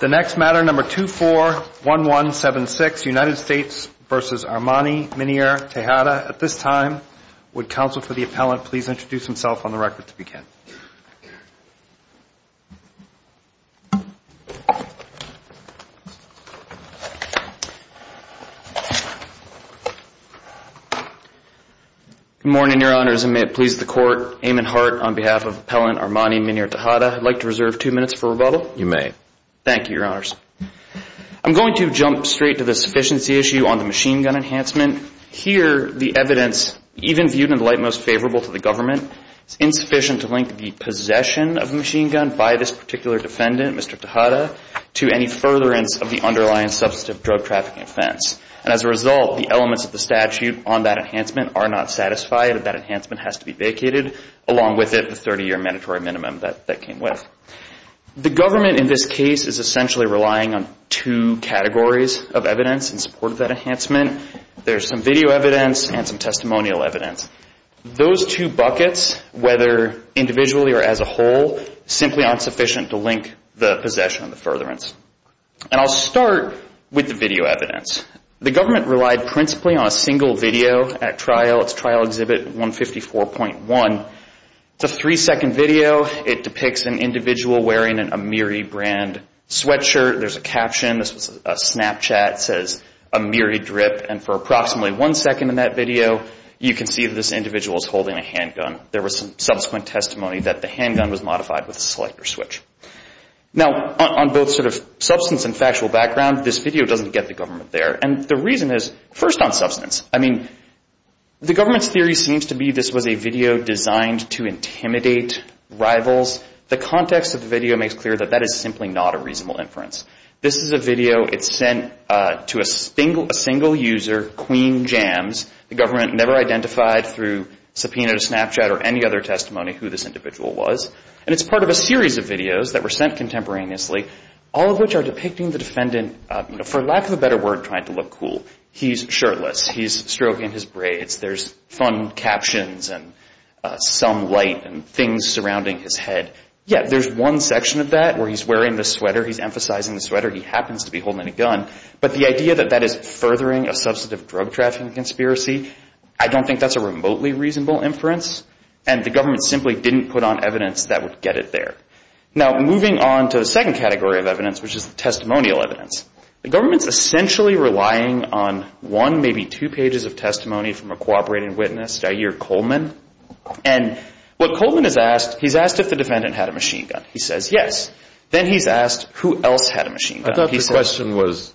The next matter, number 241176, United States v. Armani-Minier-Tejada. At this time, would counsel for the appellant please introduce himself on the record to begin. Good morning, Your Honors, and may it please the Court, Eamon Hart on behalf of Appellant Reserve, two minutes for rebuttal? You may. Thank you, Your Honors. I'm going to jump straight to the sufficiency issue on the machine gun enhancement. Here, the evidence, even viewed in the light most favorable to the government, is insufficient to link the possession of a machine gun by this particular defendant, Mr. Tejada, to any furtherance of the underlying substantive drug trafficking offense. And as a result, the elements of the statute on that enhancement are not satisfied, and that enhancement has to be vacated, along with it, the 30-year mandatory minimum that that came with. The government in this case is essentially relying on two categories of evidence in support of that enhancement. There's some video evidence and some testimonial evidence. Those two buckets, whether individually or as a whole, simply aren't sufficient to link the possession of the furtherance. And I'll start with the video evidence. The government relied principally on a single video at trial. It's Trial Exhibit 154.1. It's a three-second video. It depicts an individual wearing an Amiri brand sweatshirt. There's a caption. This was a Snapchat. It says, Amiri drip. And for approximately one second in that video, you can see this individual is holding a handgun. There was some subsequent testimony that the handgun was modified with a selector switch. Now, on both sort of substance and factual background, this video doesn't get the government there. And the reason is, first on substance, I mean, the government's theory seems to be this was a video designed to intimidate rivals. The context of the video makes clear that that is simply not a reasonable inference. This is a video. It's sent to a single user, Queen Jams. The government never identified through subpoena to Snapchat or any other testimony who this individual was. And it's part of a series of videos that were sent contemporaneously, all of which are depicting the defendant, for lack of a better word, trying to look cool. He's shirtless. He's stroking his braids. There's fun captions and some light and things surrounding his head. Yet, there's one section of that where he's wearing the sweater. He's emphasizing the sweater. He happens to be holding a gun. But the idea that that is furthering a substantive drug trafficking conspiracy, I don't think that's a remotely reasonable inference. And the government simply didn't put on evidence that would get it there. Now, moving on to the second category of evidence, which is testimonial evidence. The government's essentially relying on one, maybe two pages of testimony from a cooperating witness, Dyer Coleman. And what Coleman has asked, he's asked if the defendant had a machine gun. He says yes. Then he's asked who else had a machine gun. I thought the question was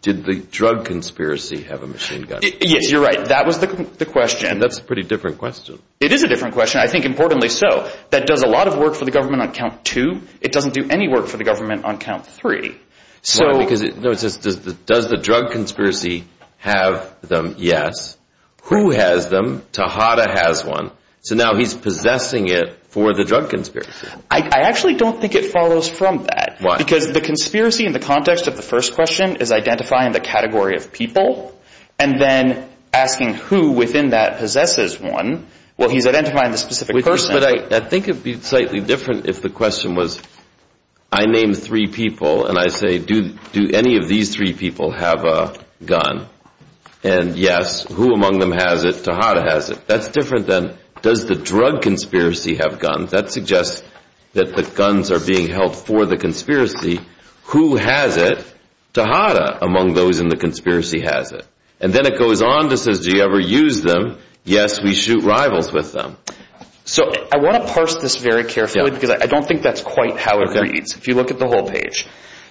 did the drug conspiracy have a machine gun? Yes, you're right. That was the question. That's a pretty different question. It is a different question. I think importantly so. That does a lot of work for the government on count two. It doesn't do any work for the government on count three. Does the drug conspiracy have them? Yes. Who has them? Tahada has one. So now he's possessing it for the drug conspiracy. I actually don't think it follows from that. Why? Because the conspiracy in the context of the first question is identifying the category of people and then asking who within that possesses one. Well, he's identifying the specific person. But I think it would be slightly different if the question was I name three people and I say do any of these three people have a gun? And yes, who among them has it? Tahada has it. That's different than does the drug conspiracy have guns? That suggests that the guns are being held for the conspiracy. Who has it? Tahada among those in the conspiracy has it. And then it goes on to say do you ever use them? Yes, we shoot rivals with them. So I want to parse this very carefully because I don't think that's quite how it reads if you look at the whole page.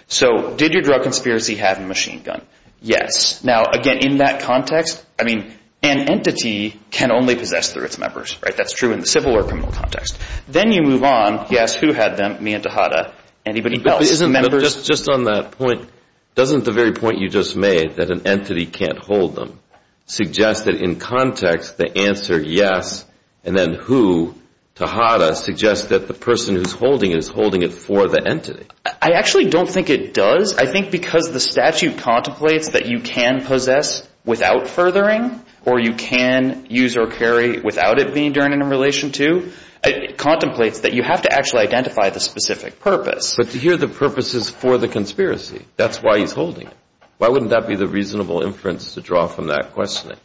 So did your drug conspiracy have a machine gun? Yes. Now, again, in that context, I mean, an entity can only possess through its members, right? That's true in the civil or criminal context. Then you move on. Yes, who had them? Me and Tahada. Anybody else? Just on that point, doesn't the very point you just made that an entity can't hold them suggest that in context the answer yes and then who, Tahada, suggests that the person who's holding it is holding it for the entity? I actually don't think it does. I think because the statute contemplates that you can possess without furthering or you can use or carry without it being done in relation to, it contemplates that you have to actually identify the specific purpose. But here the purpose is for the conspiracy. That's why he's holding it. Why wouldn't that be the reasonable inference to draw from that questioning?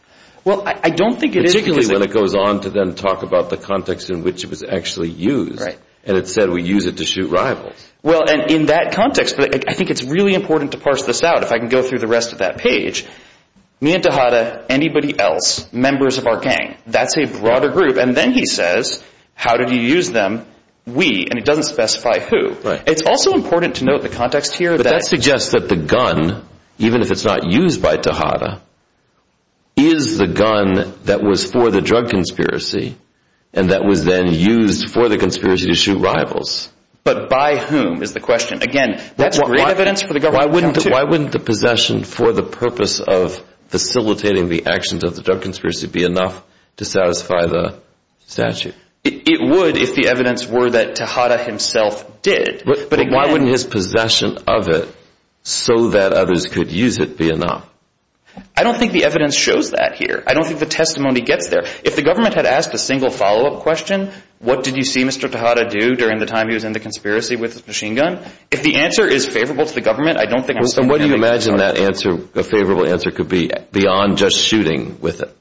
Well, I don't think it is. Particularly when it goes on to then talk about the context in which it was actually used. And it said we use it to shoot rivals. Well, and in that context, I think it's really important to parse this out. If I can go through the rest of that page, me and Tahada, anybody else, members of our gang, that's a broader group. And then he says, how did you use them? We, and it doesn't specify who. It's also important to note the context here. But that suggests that the gun, even if it's not used by Tahada, is the gun that was for the drug conspiracy. And that was then used for the conspiracy to shoot rivals. But by whom is the question? Again, that's great evidence for the government. Why wouldn't, why wouldn't the possession for the purpose of facilitating the actions of the drug conspiracy be enough to satisfy the statute? It would if the evidence were that Tahada himself did. But why wouldn't his possession of it so that others could use it be enough? I don't think the evidence shows that here. I don't think the testimony gets there. If the government had asked a single follow-up question, what did you see Mr. Tahada do during the time he was in the conspiracy with the machine gun? If the answer is favorable to the government, I don't think... Well, so what do you imagine that answer, a favorable answer could be beyond just shooting with it?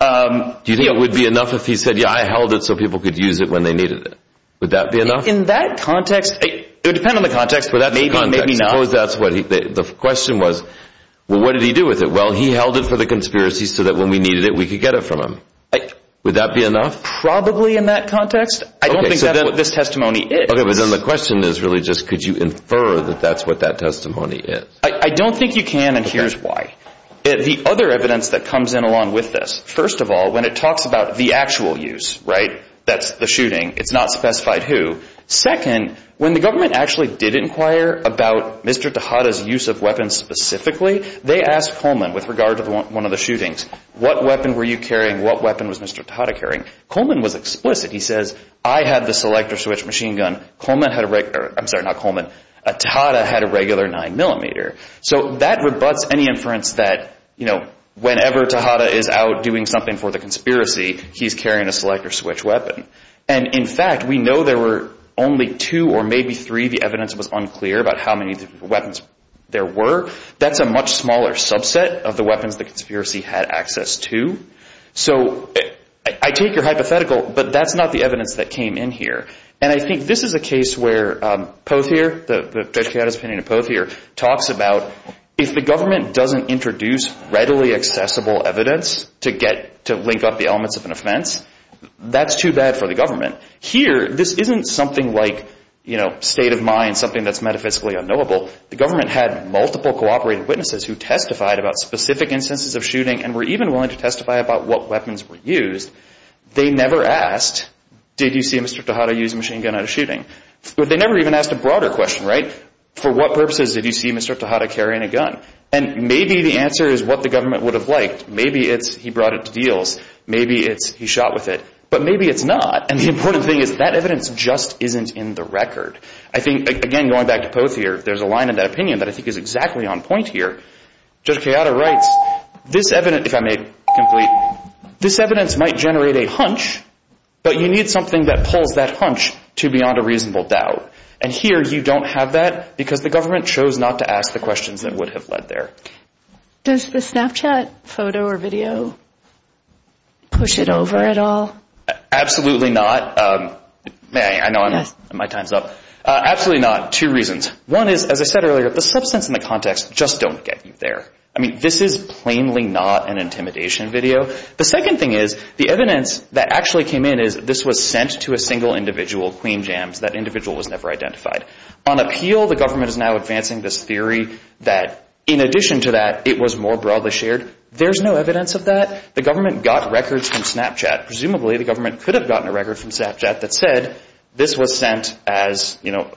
Do you think it would be enough if he said, yeah, I held it so people could use it when they needed it? Would that be enough? In that context, it would depend on the context, but maybe, maybe not. Suppose that's what he, the question was, well, what did he do with it? Well, he held it for the conspiracy so that when we needed it, we could get it from him. Would that be enough? Probably in that context. I don't think that's what this testimony is. Okay, but then the question is really just, could you infer that that's what that testimony is? I don't think you can, and here's why. The other evidence that comes in along with this, first of all, when it talks about the actual use, right, that's the shooting, it's not specified who. Second, when the government actually did inquire about Mr. Tejada's use of weapons specifically, they asked Coleman with regard to one of the shootings, what weapon were you carrying? What weapon was Mr. Tejada carrying? Coleman was explicit. He says, I had the selector switch machine gun. Coleman had a regular, I'm sorry, not Coleman, Tejada had a regular nine millimeter. So that rebuts any inference that, you know, whenever Tejada is out doing something for the conspiracy, he's carrying a selector switch weapon. And in fact, we know there were only two or maybe three, the evidence was unclear about how many weapons there were. That's a much smaller subset of the weapons the conspiracy had access to. So I take your hypothetical, but that's not the evidence that came in here. And I think this is a case where Pothier, the Tejada's opinion of Pothier, talks about if the government doesn't introduce readily accessible evidence to get, to link up the consequence of an offense, that's too bad for the government. Here, this isn't something like, you know, state of mind, something that's metaphysically unknowable. The government had multiple cooperating witnesses who testified about specific instances of shooting and were even willing to testify about what weapons were used. They never asked, did you see Mr. Tejada use a machine gun at a shooting? They never even asked a broader question, right? For what purposes did you see Mr. Tejada carrying a gun? And maybe the answer is what the government would have liked. Maybe it's he brought it to deals. Maybe it's he shot with it. But maybe it's not. And the important thing is that evidence just isn't in the record. I think, again, going back to Pothier, there's a line in that opinion that I think is exactly on point here. Judge Tejada writes, this evidence, if I may complete, this evidence might generate a hunch, but you need something that pulls that hunch to beyond a reasonable doubt. And here you don't have that because the government chose not to ask the questions that would have led there. Does the Snapchat photo or video push it over at all? Absolutely not. I know my time's up. Absolutely not. Two reasons. One is, as I said earlier, the substance and the context just don't get you there. I mean, this is plainly not an intimidation video. The second thing is, the evidence that actually came in is this was sent to a single individual, Queen Jams, that individual was never identified. On appeal, the government is now advancing this theory that in addition to that, it was more broadly shared. There's no evidence of that. The government got records from Snapchat. Presumably the government could have gotten a record from Snapchat that said this was sent as, you know,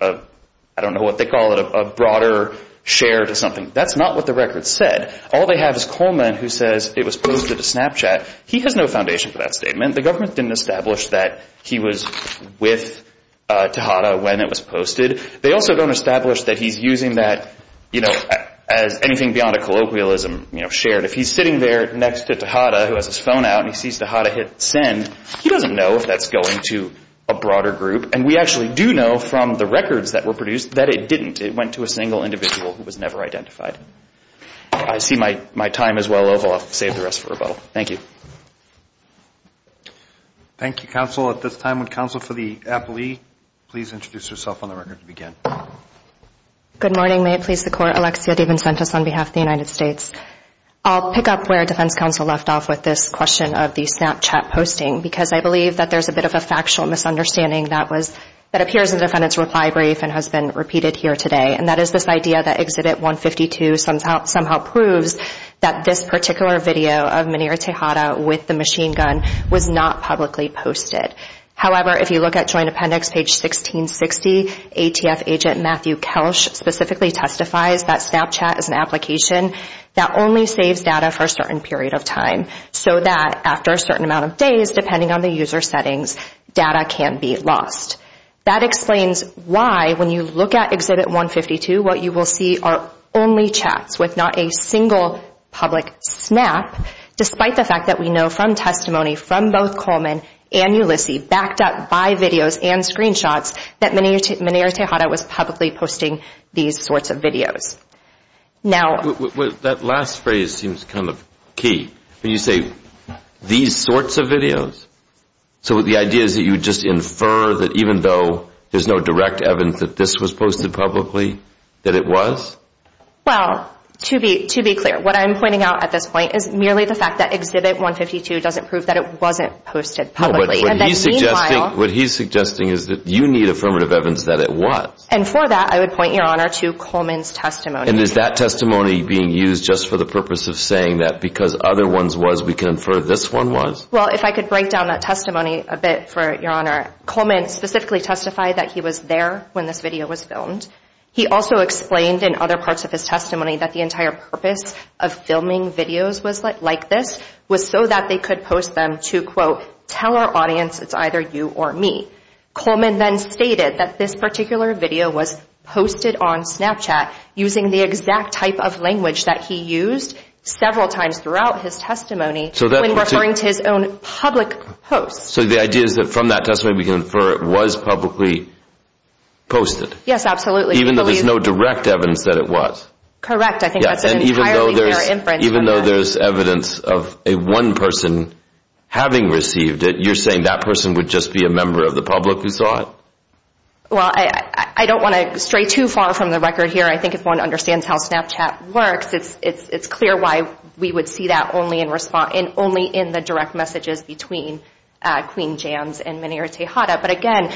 I don't know what they call it, a broader share to something. That's not what the record said. All they have is Coleman who says it was posted to Snapchat. He has no foundation for that statement. The government didn't establish that he was with Tejada when it was posted. They also don't establish that he's using that, you know, as anything beyond a colloquialism, you know, shared. If he's sitting there next to Tejada, who has his phone out, and he sees Tejada hit send, he doesn't know if that's going to a broader group. And we actually do know from the records that were produced that it didn't. It went to a single individual who was never identified. I see my time is well over. I'll save the rest for rebuttal. Thank you. Thank you, counsel. At this time, would counsel for the appellee please introduce herself on the record to begin. Good morning. May it please the Court. Alexia Devencentis on behalf of the United States. I'll pick up where Defense Counsel left off with this question of the Snapchat posting because I believe that there's a bit of a factual misunderstanding that was, that appears in the defendant's reply brief and has been repeated here today. And that is this idea that Exhibit 152 somehow proves that this particular video of Muneer Tejada with the machine gun was not publicly posted. However, if you look at Joint Appendix page 1660, ATF agent Matthew Kelsch specifically testifies that Snapchat is an application that only saves data for a certain period of time so that after a certain amount of days, depending on the user settings, data can be lost. That explains why when you look at Exhibit 152, what you will see are only chats with not a single public snap, despite the fact that we know from testimony from both Coleman and Ulysses backed up by videos and screenshots that Muneer Tejada was publicly posting these sorts of videos. Now... That last phrase seems kind of key. When you say these sorts of videos, so the idea is that you just infer that even though there's no direct evidence that this was posted publicly, that it was? Well, to be, to be clear, what I'm pointing out at this point is merely the fact that Exhibit 152 doesn't prove that it wasn't posted publicly and that meanwhile... What he's suggesting is that you need affirmative evidence that it was. And for that, I would point, Your Honor, to Coleman's testimony. And is that testimony being used just for the purpose of saying that because other ones was we can infer this one was? Well, if I could break down that testimony a bit for Your Honor, Coleman specifically testified that he was there when this video was filmed. He also explained in other parts of his testimony that the entire purpose of filming videos was like this was so that they could post them to, quote, tell our audience it's either you or me. Coleman then stated that this particular video was posted on Snapchat using the exact type of language that he used several times throughout his testimony when referring to his own public posts. So the idea is that from that testimony we can infer it was publicly posted? Yes, absolutely. Even though there's no direct evidence that it was? Correct. I think that's an entirely fair inference. Even though there's evidence of one person having received it, you're saying that person would just be a member of the public who saw it? Well, I don't want to stray too far from the record here. I think if one understands how Snapchat works, it's clear why we would see that only in the direct messages between Queen Jams and Meneer Tejada. But again,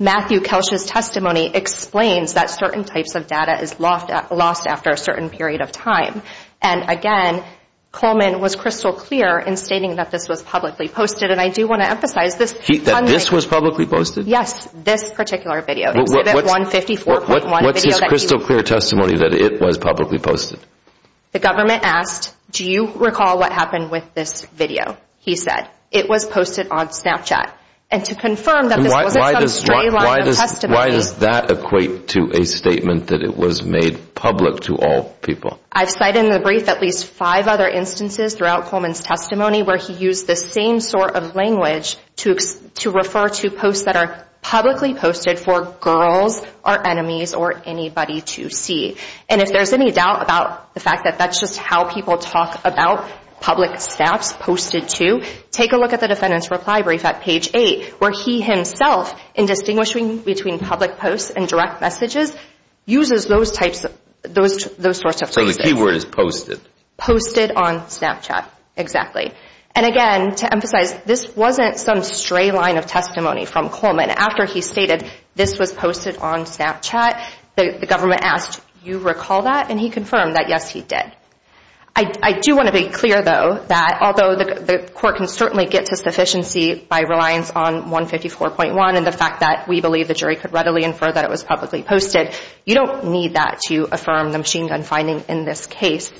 Matthew Kelsch's testimony explains that certain types of data is lost after a certain period of time. And again, Coleman was crystal clear in stating that this was publicly posted. And I do want to emphasize this. That this was publicly posted? Yes, this particular video. What's his crystal clear testimony that it was publicly posted? The government asked, do you recall what happened with this video? He said, it was posted on Snapchat. And to confirm that this wasn't some stray line of testimony? Why does that equate to a statement that it was made public to all people? I've cited in the brief at least five other instances throughout Coleman's testimony where he used the same sort of language to refer to posts that are publicly posted for girls or enemies or anybody to see. And if there's any doubt about the fact that that's just how people talk about public snaps posted to, take a look at the defendant's reply brief at page eight, where he himself, in distinguishing between public posts and direct messages, uses those types, those sorts of things. So the key word is posted. Posted on Snapchat, exactly. And again, to emphasize, this wasn't some stray line of testimony from Coleman. After he stated this was posted on Snapchat, the government asked, do you recall that? And he confirmed that, yes, he did. I do want to be clear, though, that although the court can certainly get to sufficiency by reliance on 154.1 and the fact that we believe the jury could readily infer that it was publicly posted, you don't need that to affirm the machine gun finding in this case.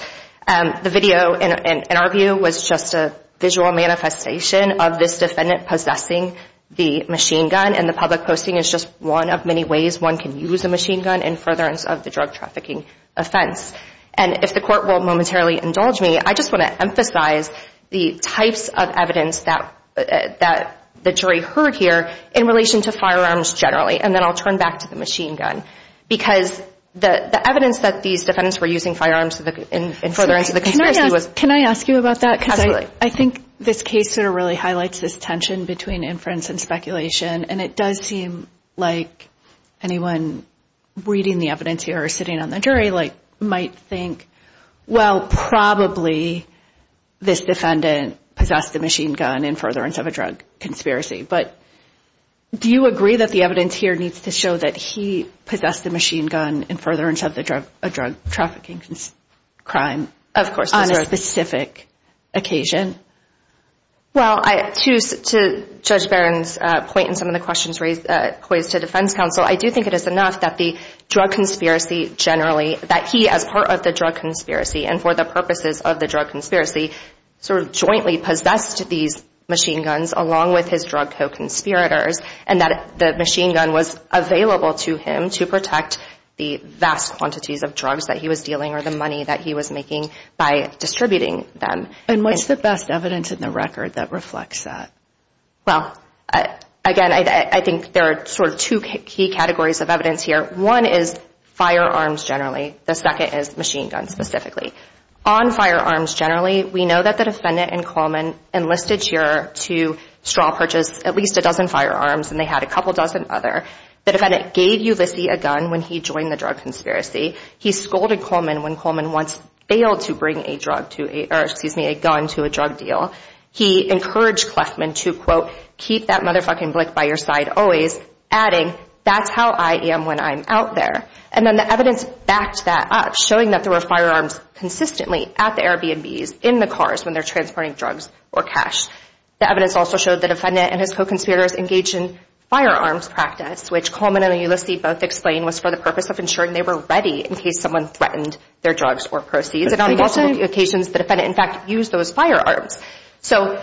The video, in our view, was just a visual manifestation of this defendant possessing the machine gun. And the public posting is just one of many ways one can use a machine gun in furtherance of the drug trafficking offense. And if the court will momentarily indulge me, I just want to emphasize the types of evidence that the jury heard here in relation to firearms generally. And then I'll turn back to the machine gun. Because the evidence that these defendants were using firearms in furtherance of the conspiracy was... Can I ask you about that? Absolutely. Because I think this case sort of really highlights this tension between inference and speculation. And it does seem like anyone reading the evidence here or sitting on the jury might think, well, probably this defendant possessed the machine gun in furtherance of a drug conspiracy. But do you agree that the evidence here needs to show that he possessed the machine gun in furtherance of a drug trafficking crime on a specific occasion? Well, to Judge Barron's point and some of the questions raised, poised to defense counsel, I do think it is enough that the drug conspiracy generally, that he as part of the drug conspiracy and for the purposes of the drug conspiracy sort of jointly possessed these machine guns along with his drug co-conspirators and that the machine gun was available to him to protect the vast quantities of drugs that he was dealing or the money that he was making by distributing them. And what's the best evidence in the record that reflects that? Well, again, I think there are sort of two key categories of evidence here. One is firearms generally. The second is machine guns specifically. On firearms generally, we know that the defendant and Coleman enlisted here to straw purchase at least a dozen firearms and they had a couple dozen other. The defendant gave Ulysses a gun when he joined the drug conspiracy. He scolded Coleman when Coleman once failed to bring a gun to a drug deal. He encouraged Clefman to, quote, keep that motherfucking blick by your side always, adding, that's how I am when I'm out there. And then the evidence backed that up, showing that there were firearms consistently at the Airbnbs in the cars when they're transporting drugs or cash. The evidence also showed the defendant and his co-conspirators engaged in firearms practice, which Coleman and Ulysses both explained was for the purpose of ensuring they were ready in case someone threatened their drugs or proceeds. And on multiple occasions, the defendant, in fact, used those firearms. So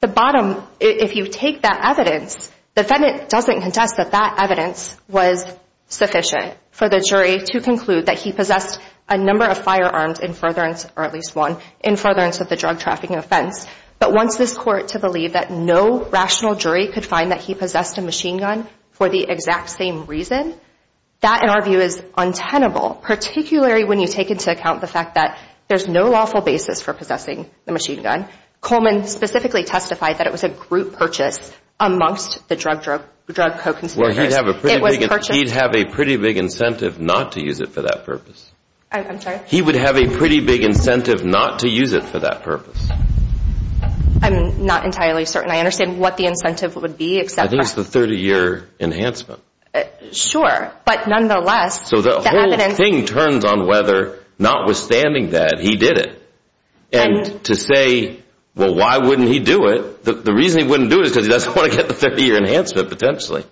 the bottom, if you take that evidence, the defendant doesn't contest that that evidence was sufficient for the jury to conclude that he possessed a number of firearms in furtherance, or at least one, in furtherance of the drug trafficking offense. But wants this court to believe that no rational jury could find that he possessed a machine gun for the exact same reason, that, in our view, is untenable, particularly when you take into account the fact that there's no lawful basis for possessing a machine gun. Coleman specifically testified that it was a group purchase amongst the drug co-conspirators. It was purchased. Well, he'd have a pretty big incentive not to use it for that purpose. I'm sorry? He would have a pretty big incentive not to use it for that purpose. I'm not entirely certain I understand what the incentive would be except for— I think it's the 30-year enhancement. Sure. But, nonetheless— So the whole thing turns on whether, notwithstanding that, he did it. And to say, well, why wouldn't he do it? The reason he wouldn't do it is because he doesn't want to get the 30-year enhancement, potentially.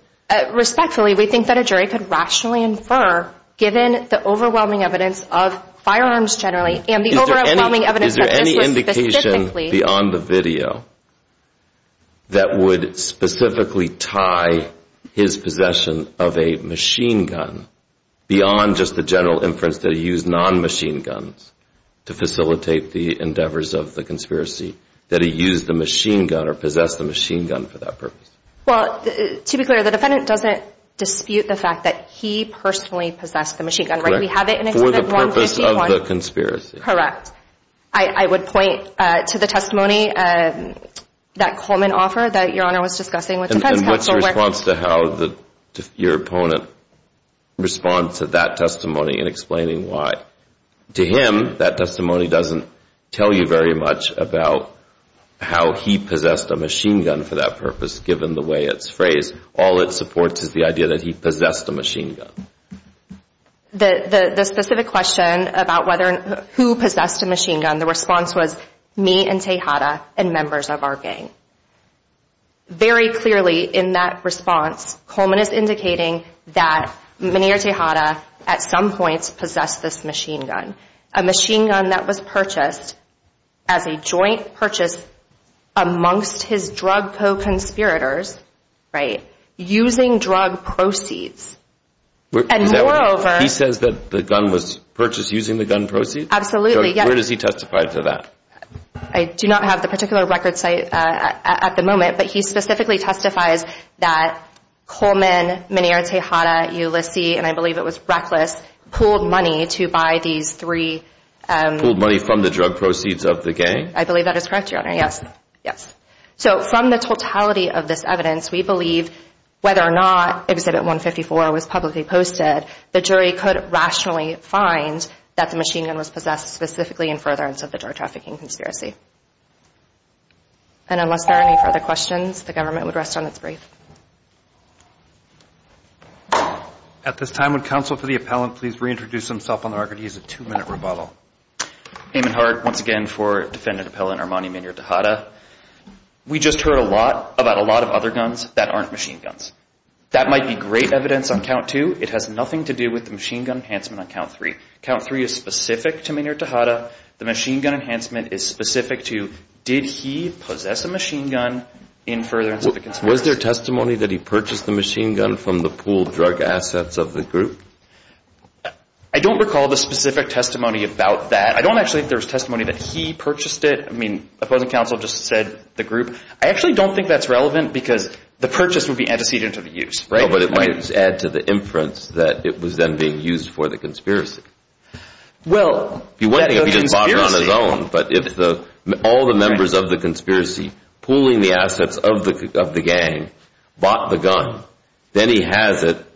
Respectfully, we think that a jury could rationally infer, given the overwhelming evidence of firearms generally and the overwhelming evidence that this was specifically— his possession of a machine gun beyond just the general inference that he used non-machine guns to facilitate the endeavors of the conspiracy, that he used the machine gun or possessed the machine gun for that purpose. Well, to be clear, the defendant doesn't dispute the fact that he personally possessed the machine gun, right? We have it in Exhibit 151. Correct. For the purpose of the conspiracy. Correct. I would point to the testimony that Coleman offered that Your Honor was discussing with What's your response to how your opponent responds to that testimony in explaining why? To him, that testimony doesn't tell you very much about how he possessed a machine gun for that purpose, given the way it's phrased. All it supports is the idea that he possessed a machine gun. The specific question about who possessed a machine gun, the response was, me and Tejada and members of our gang. Very clearly in that response, Coleman is indicating that me and Tejada at some points possessed this machine gun, a machine gun that was purchased as a joint purchase amongst his drug co-conspirators, right? Using drug proceeds. And moreover— He says that the gun was purchased using the gun proceeds? Absolutely, yes. Where does he testify to that? I do not have the particular record site at the moment, but he specifically testifies that Coleman, Menier, Tejada, Ulysses, and I believe it was Reckless, pulled money to buy these three— Pulled money from the drug proceeds of the gang? I believe that is correct, Your Honor, yes. So from the totality of this evidence, we believe whether or not Exhibit 154 was publicly posted, the jury could rationally find that the machine gun was possessed specifically in furtherance of the drug trafficking conspiracy. And unless there are any further questions, the government would rest on its brief. At this time, would counsel for the appellant please reintroduce himself on the record? He has a two-minute rebuttal. Eamon Hart, once again for Defendant Appellant Armani Menier Tejada. We just heard a lot about a lot of other guns that aren't machine guns. That might be great evidence on count two. It has nothing to do with the machine gun enhancement on count three. Count three is specific to Menier Tejada. The machine gun enhancement is specific to did he possess a machine gun in furtherance of the conspiracy? Was there testimony that he purchased the machine gun from the pooled drug assets of the group? I don't recall the specific testimony about that. I don't actually think there was testimony that he purchased it. I mean, Appellant Counsel just said the group. I actually don't think that's relevant because the purchase would be antecedent to the use, right? No, but it might add to the inference that it was then being used for the conspiracy. Well, the conspiracy... He wouldn't have bought it on his own, but if all the members of the conspiracy pooling the assets of the gang bought the gun, then he has it,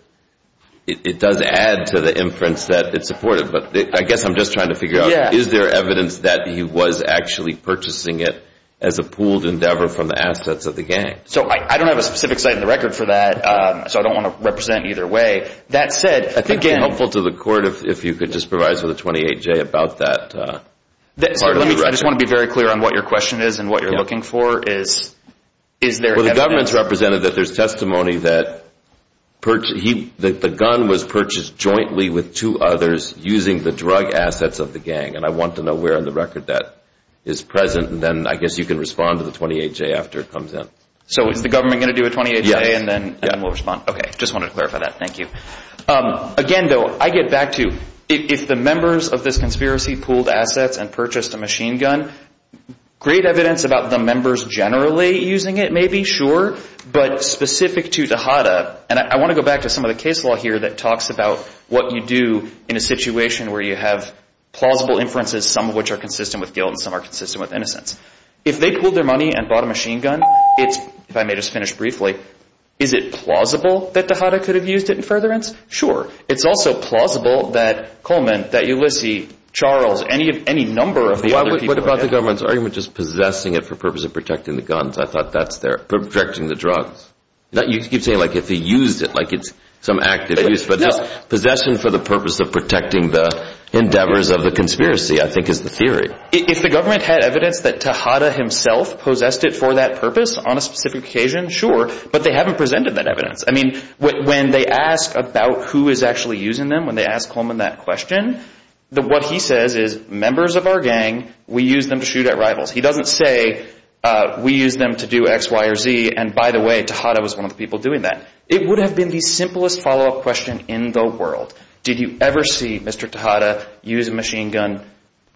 it does add to the inference that it's supported. But I guess I'm just trying to figure out, is there evidence that he was actually purchasing it as a pooled endeavor from the assets of the gang? So I don't have a specific site in the record for that. So I don't want to represent either way. That said, again... I think it'd be helpful to the court if you could just provide us with a 28-J about that part of the record. Sir, let me... I just want to be very clear on what your question is and what you're looking for is, is there evidence... Well, the government's represented that there's testimony that the gun was purchased jointly with two others using the drug assets of the gang, and I want to know where in the record that is present, and then I guess you can respond to the 28-J after it comes in. So is the government going to do a 28-J and then we'll respond? Just wanted to clarify that. Thank you. Again, though, I get back to, if the members of this conspiracy pooled assets and purchased a machine gun, great evidence about the members generally using it, maybe, sure. But specific to Dahada, and I want to go back to some of the case law here that talks about what you do in a situation where you have plausible inferences, some of which are consistent with guilt and some are consistent with innocence. If they pooled their money and bought a machine gun, if I may just finish briefly, is it plausible that Dahada could have used it in furtherance? Sure. It's also plausible that Coleman, that Ulysses, Charles, any number of the other people... What about the government's argument just possessing it for purpose of protecting the guns? I thought that's their... Protecting the drugs. You keep saying, like, if he used it, like it's some active use, but just possession for the purpose of protecting the endeavors of the conspiracy, I think, is the theory. If the government had evidence that Dahada himself possessed it for that purpose on a specific occasion, sure, but they haven't presented that evidence. I mean, when they ask about who is actually using them, when they ask Coleman that question, what he says is, members of our gang, we use them to shoot at rivals. He doesn't say, we use them to do X, Y, or Z, and by the way, Dahada was one of the people doing that. It would have been the simplest follow-up question in the world. Did you ever see Mr. Dahada use a machine gun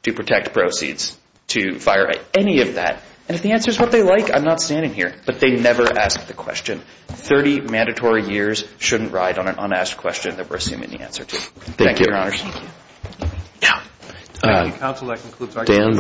to protect proceeds to fire at any of that? And if the answer is what they like, I'm not standing here. But they never ask the question. 30 mandatory years shouldn't ride on an unasked question that we're assuming the answer to. Thank you, your honors. Thank you. Yeah. Council, that concludes our... Dan, we're...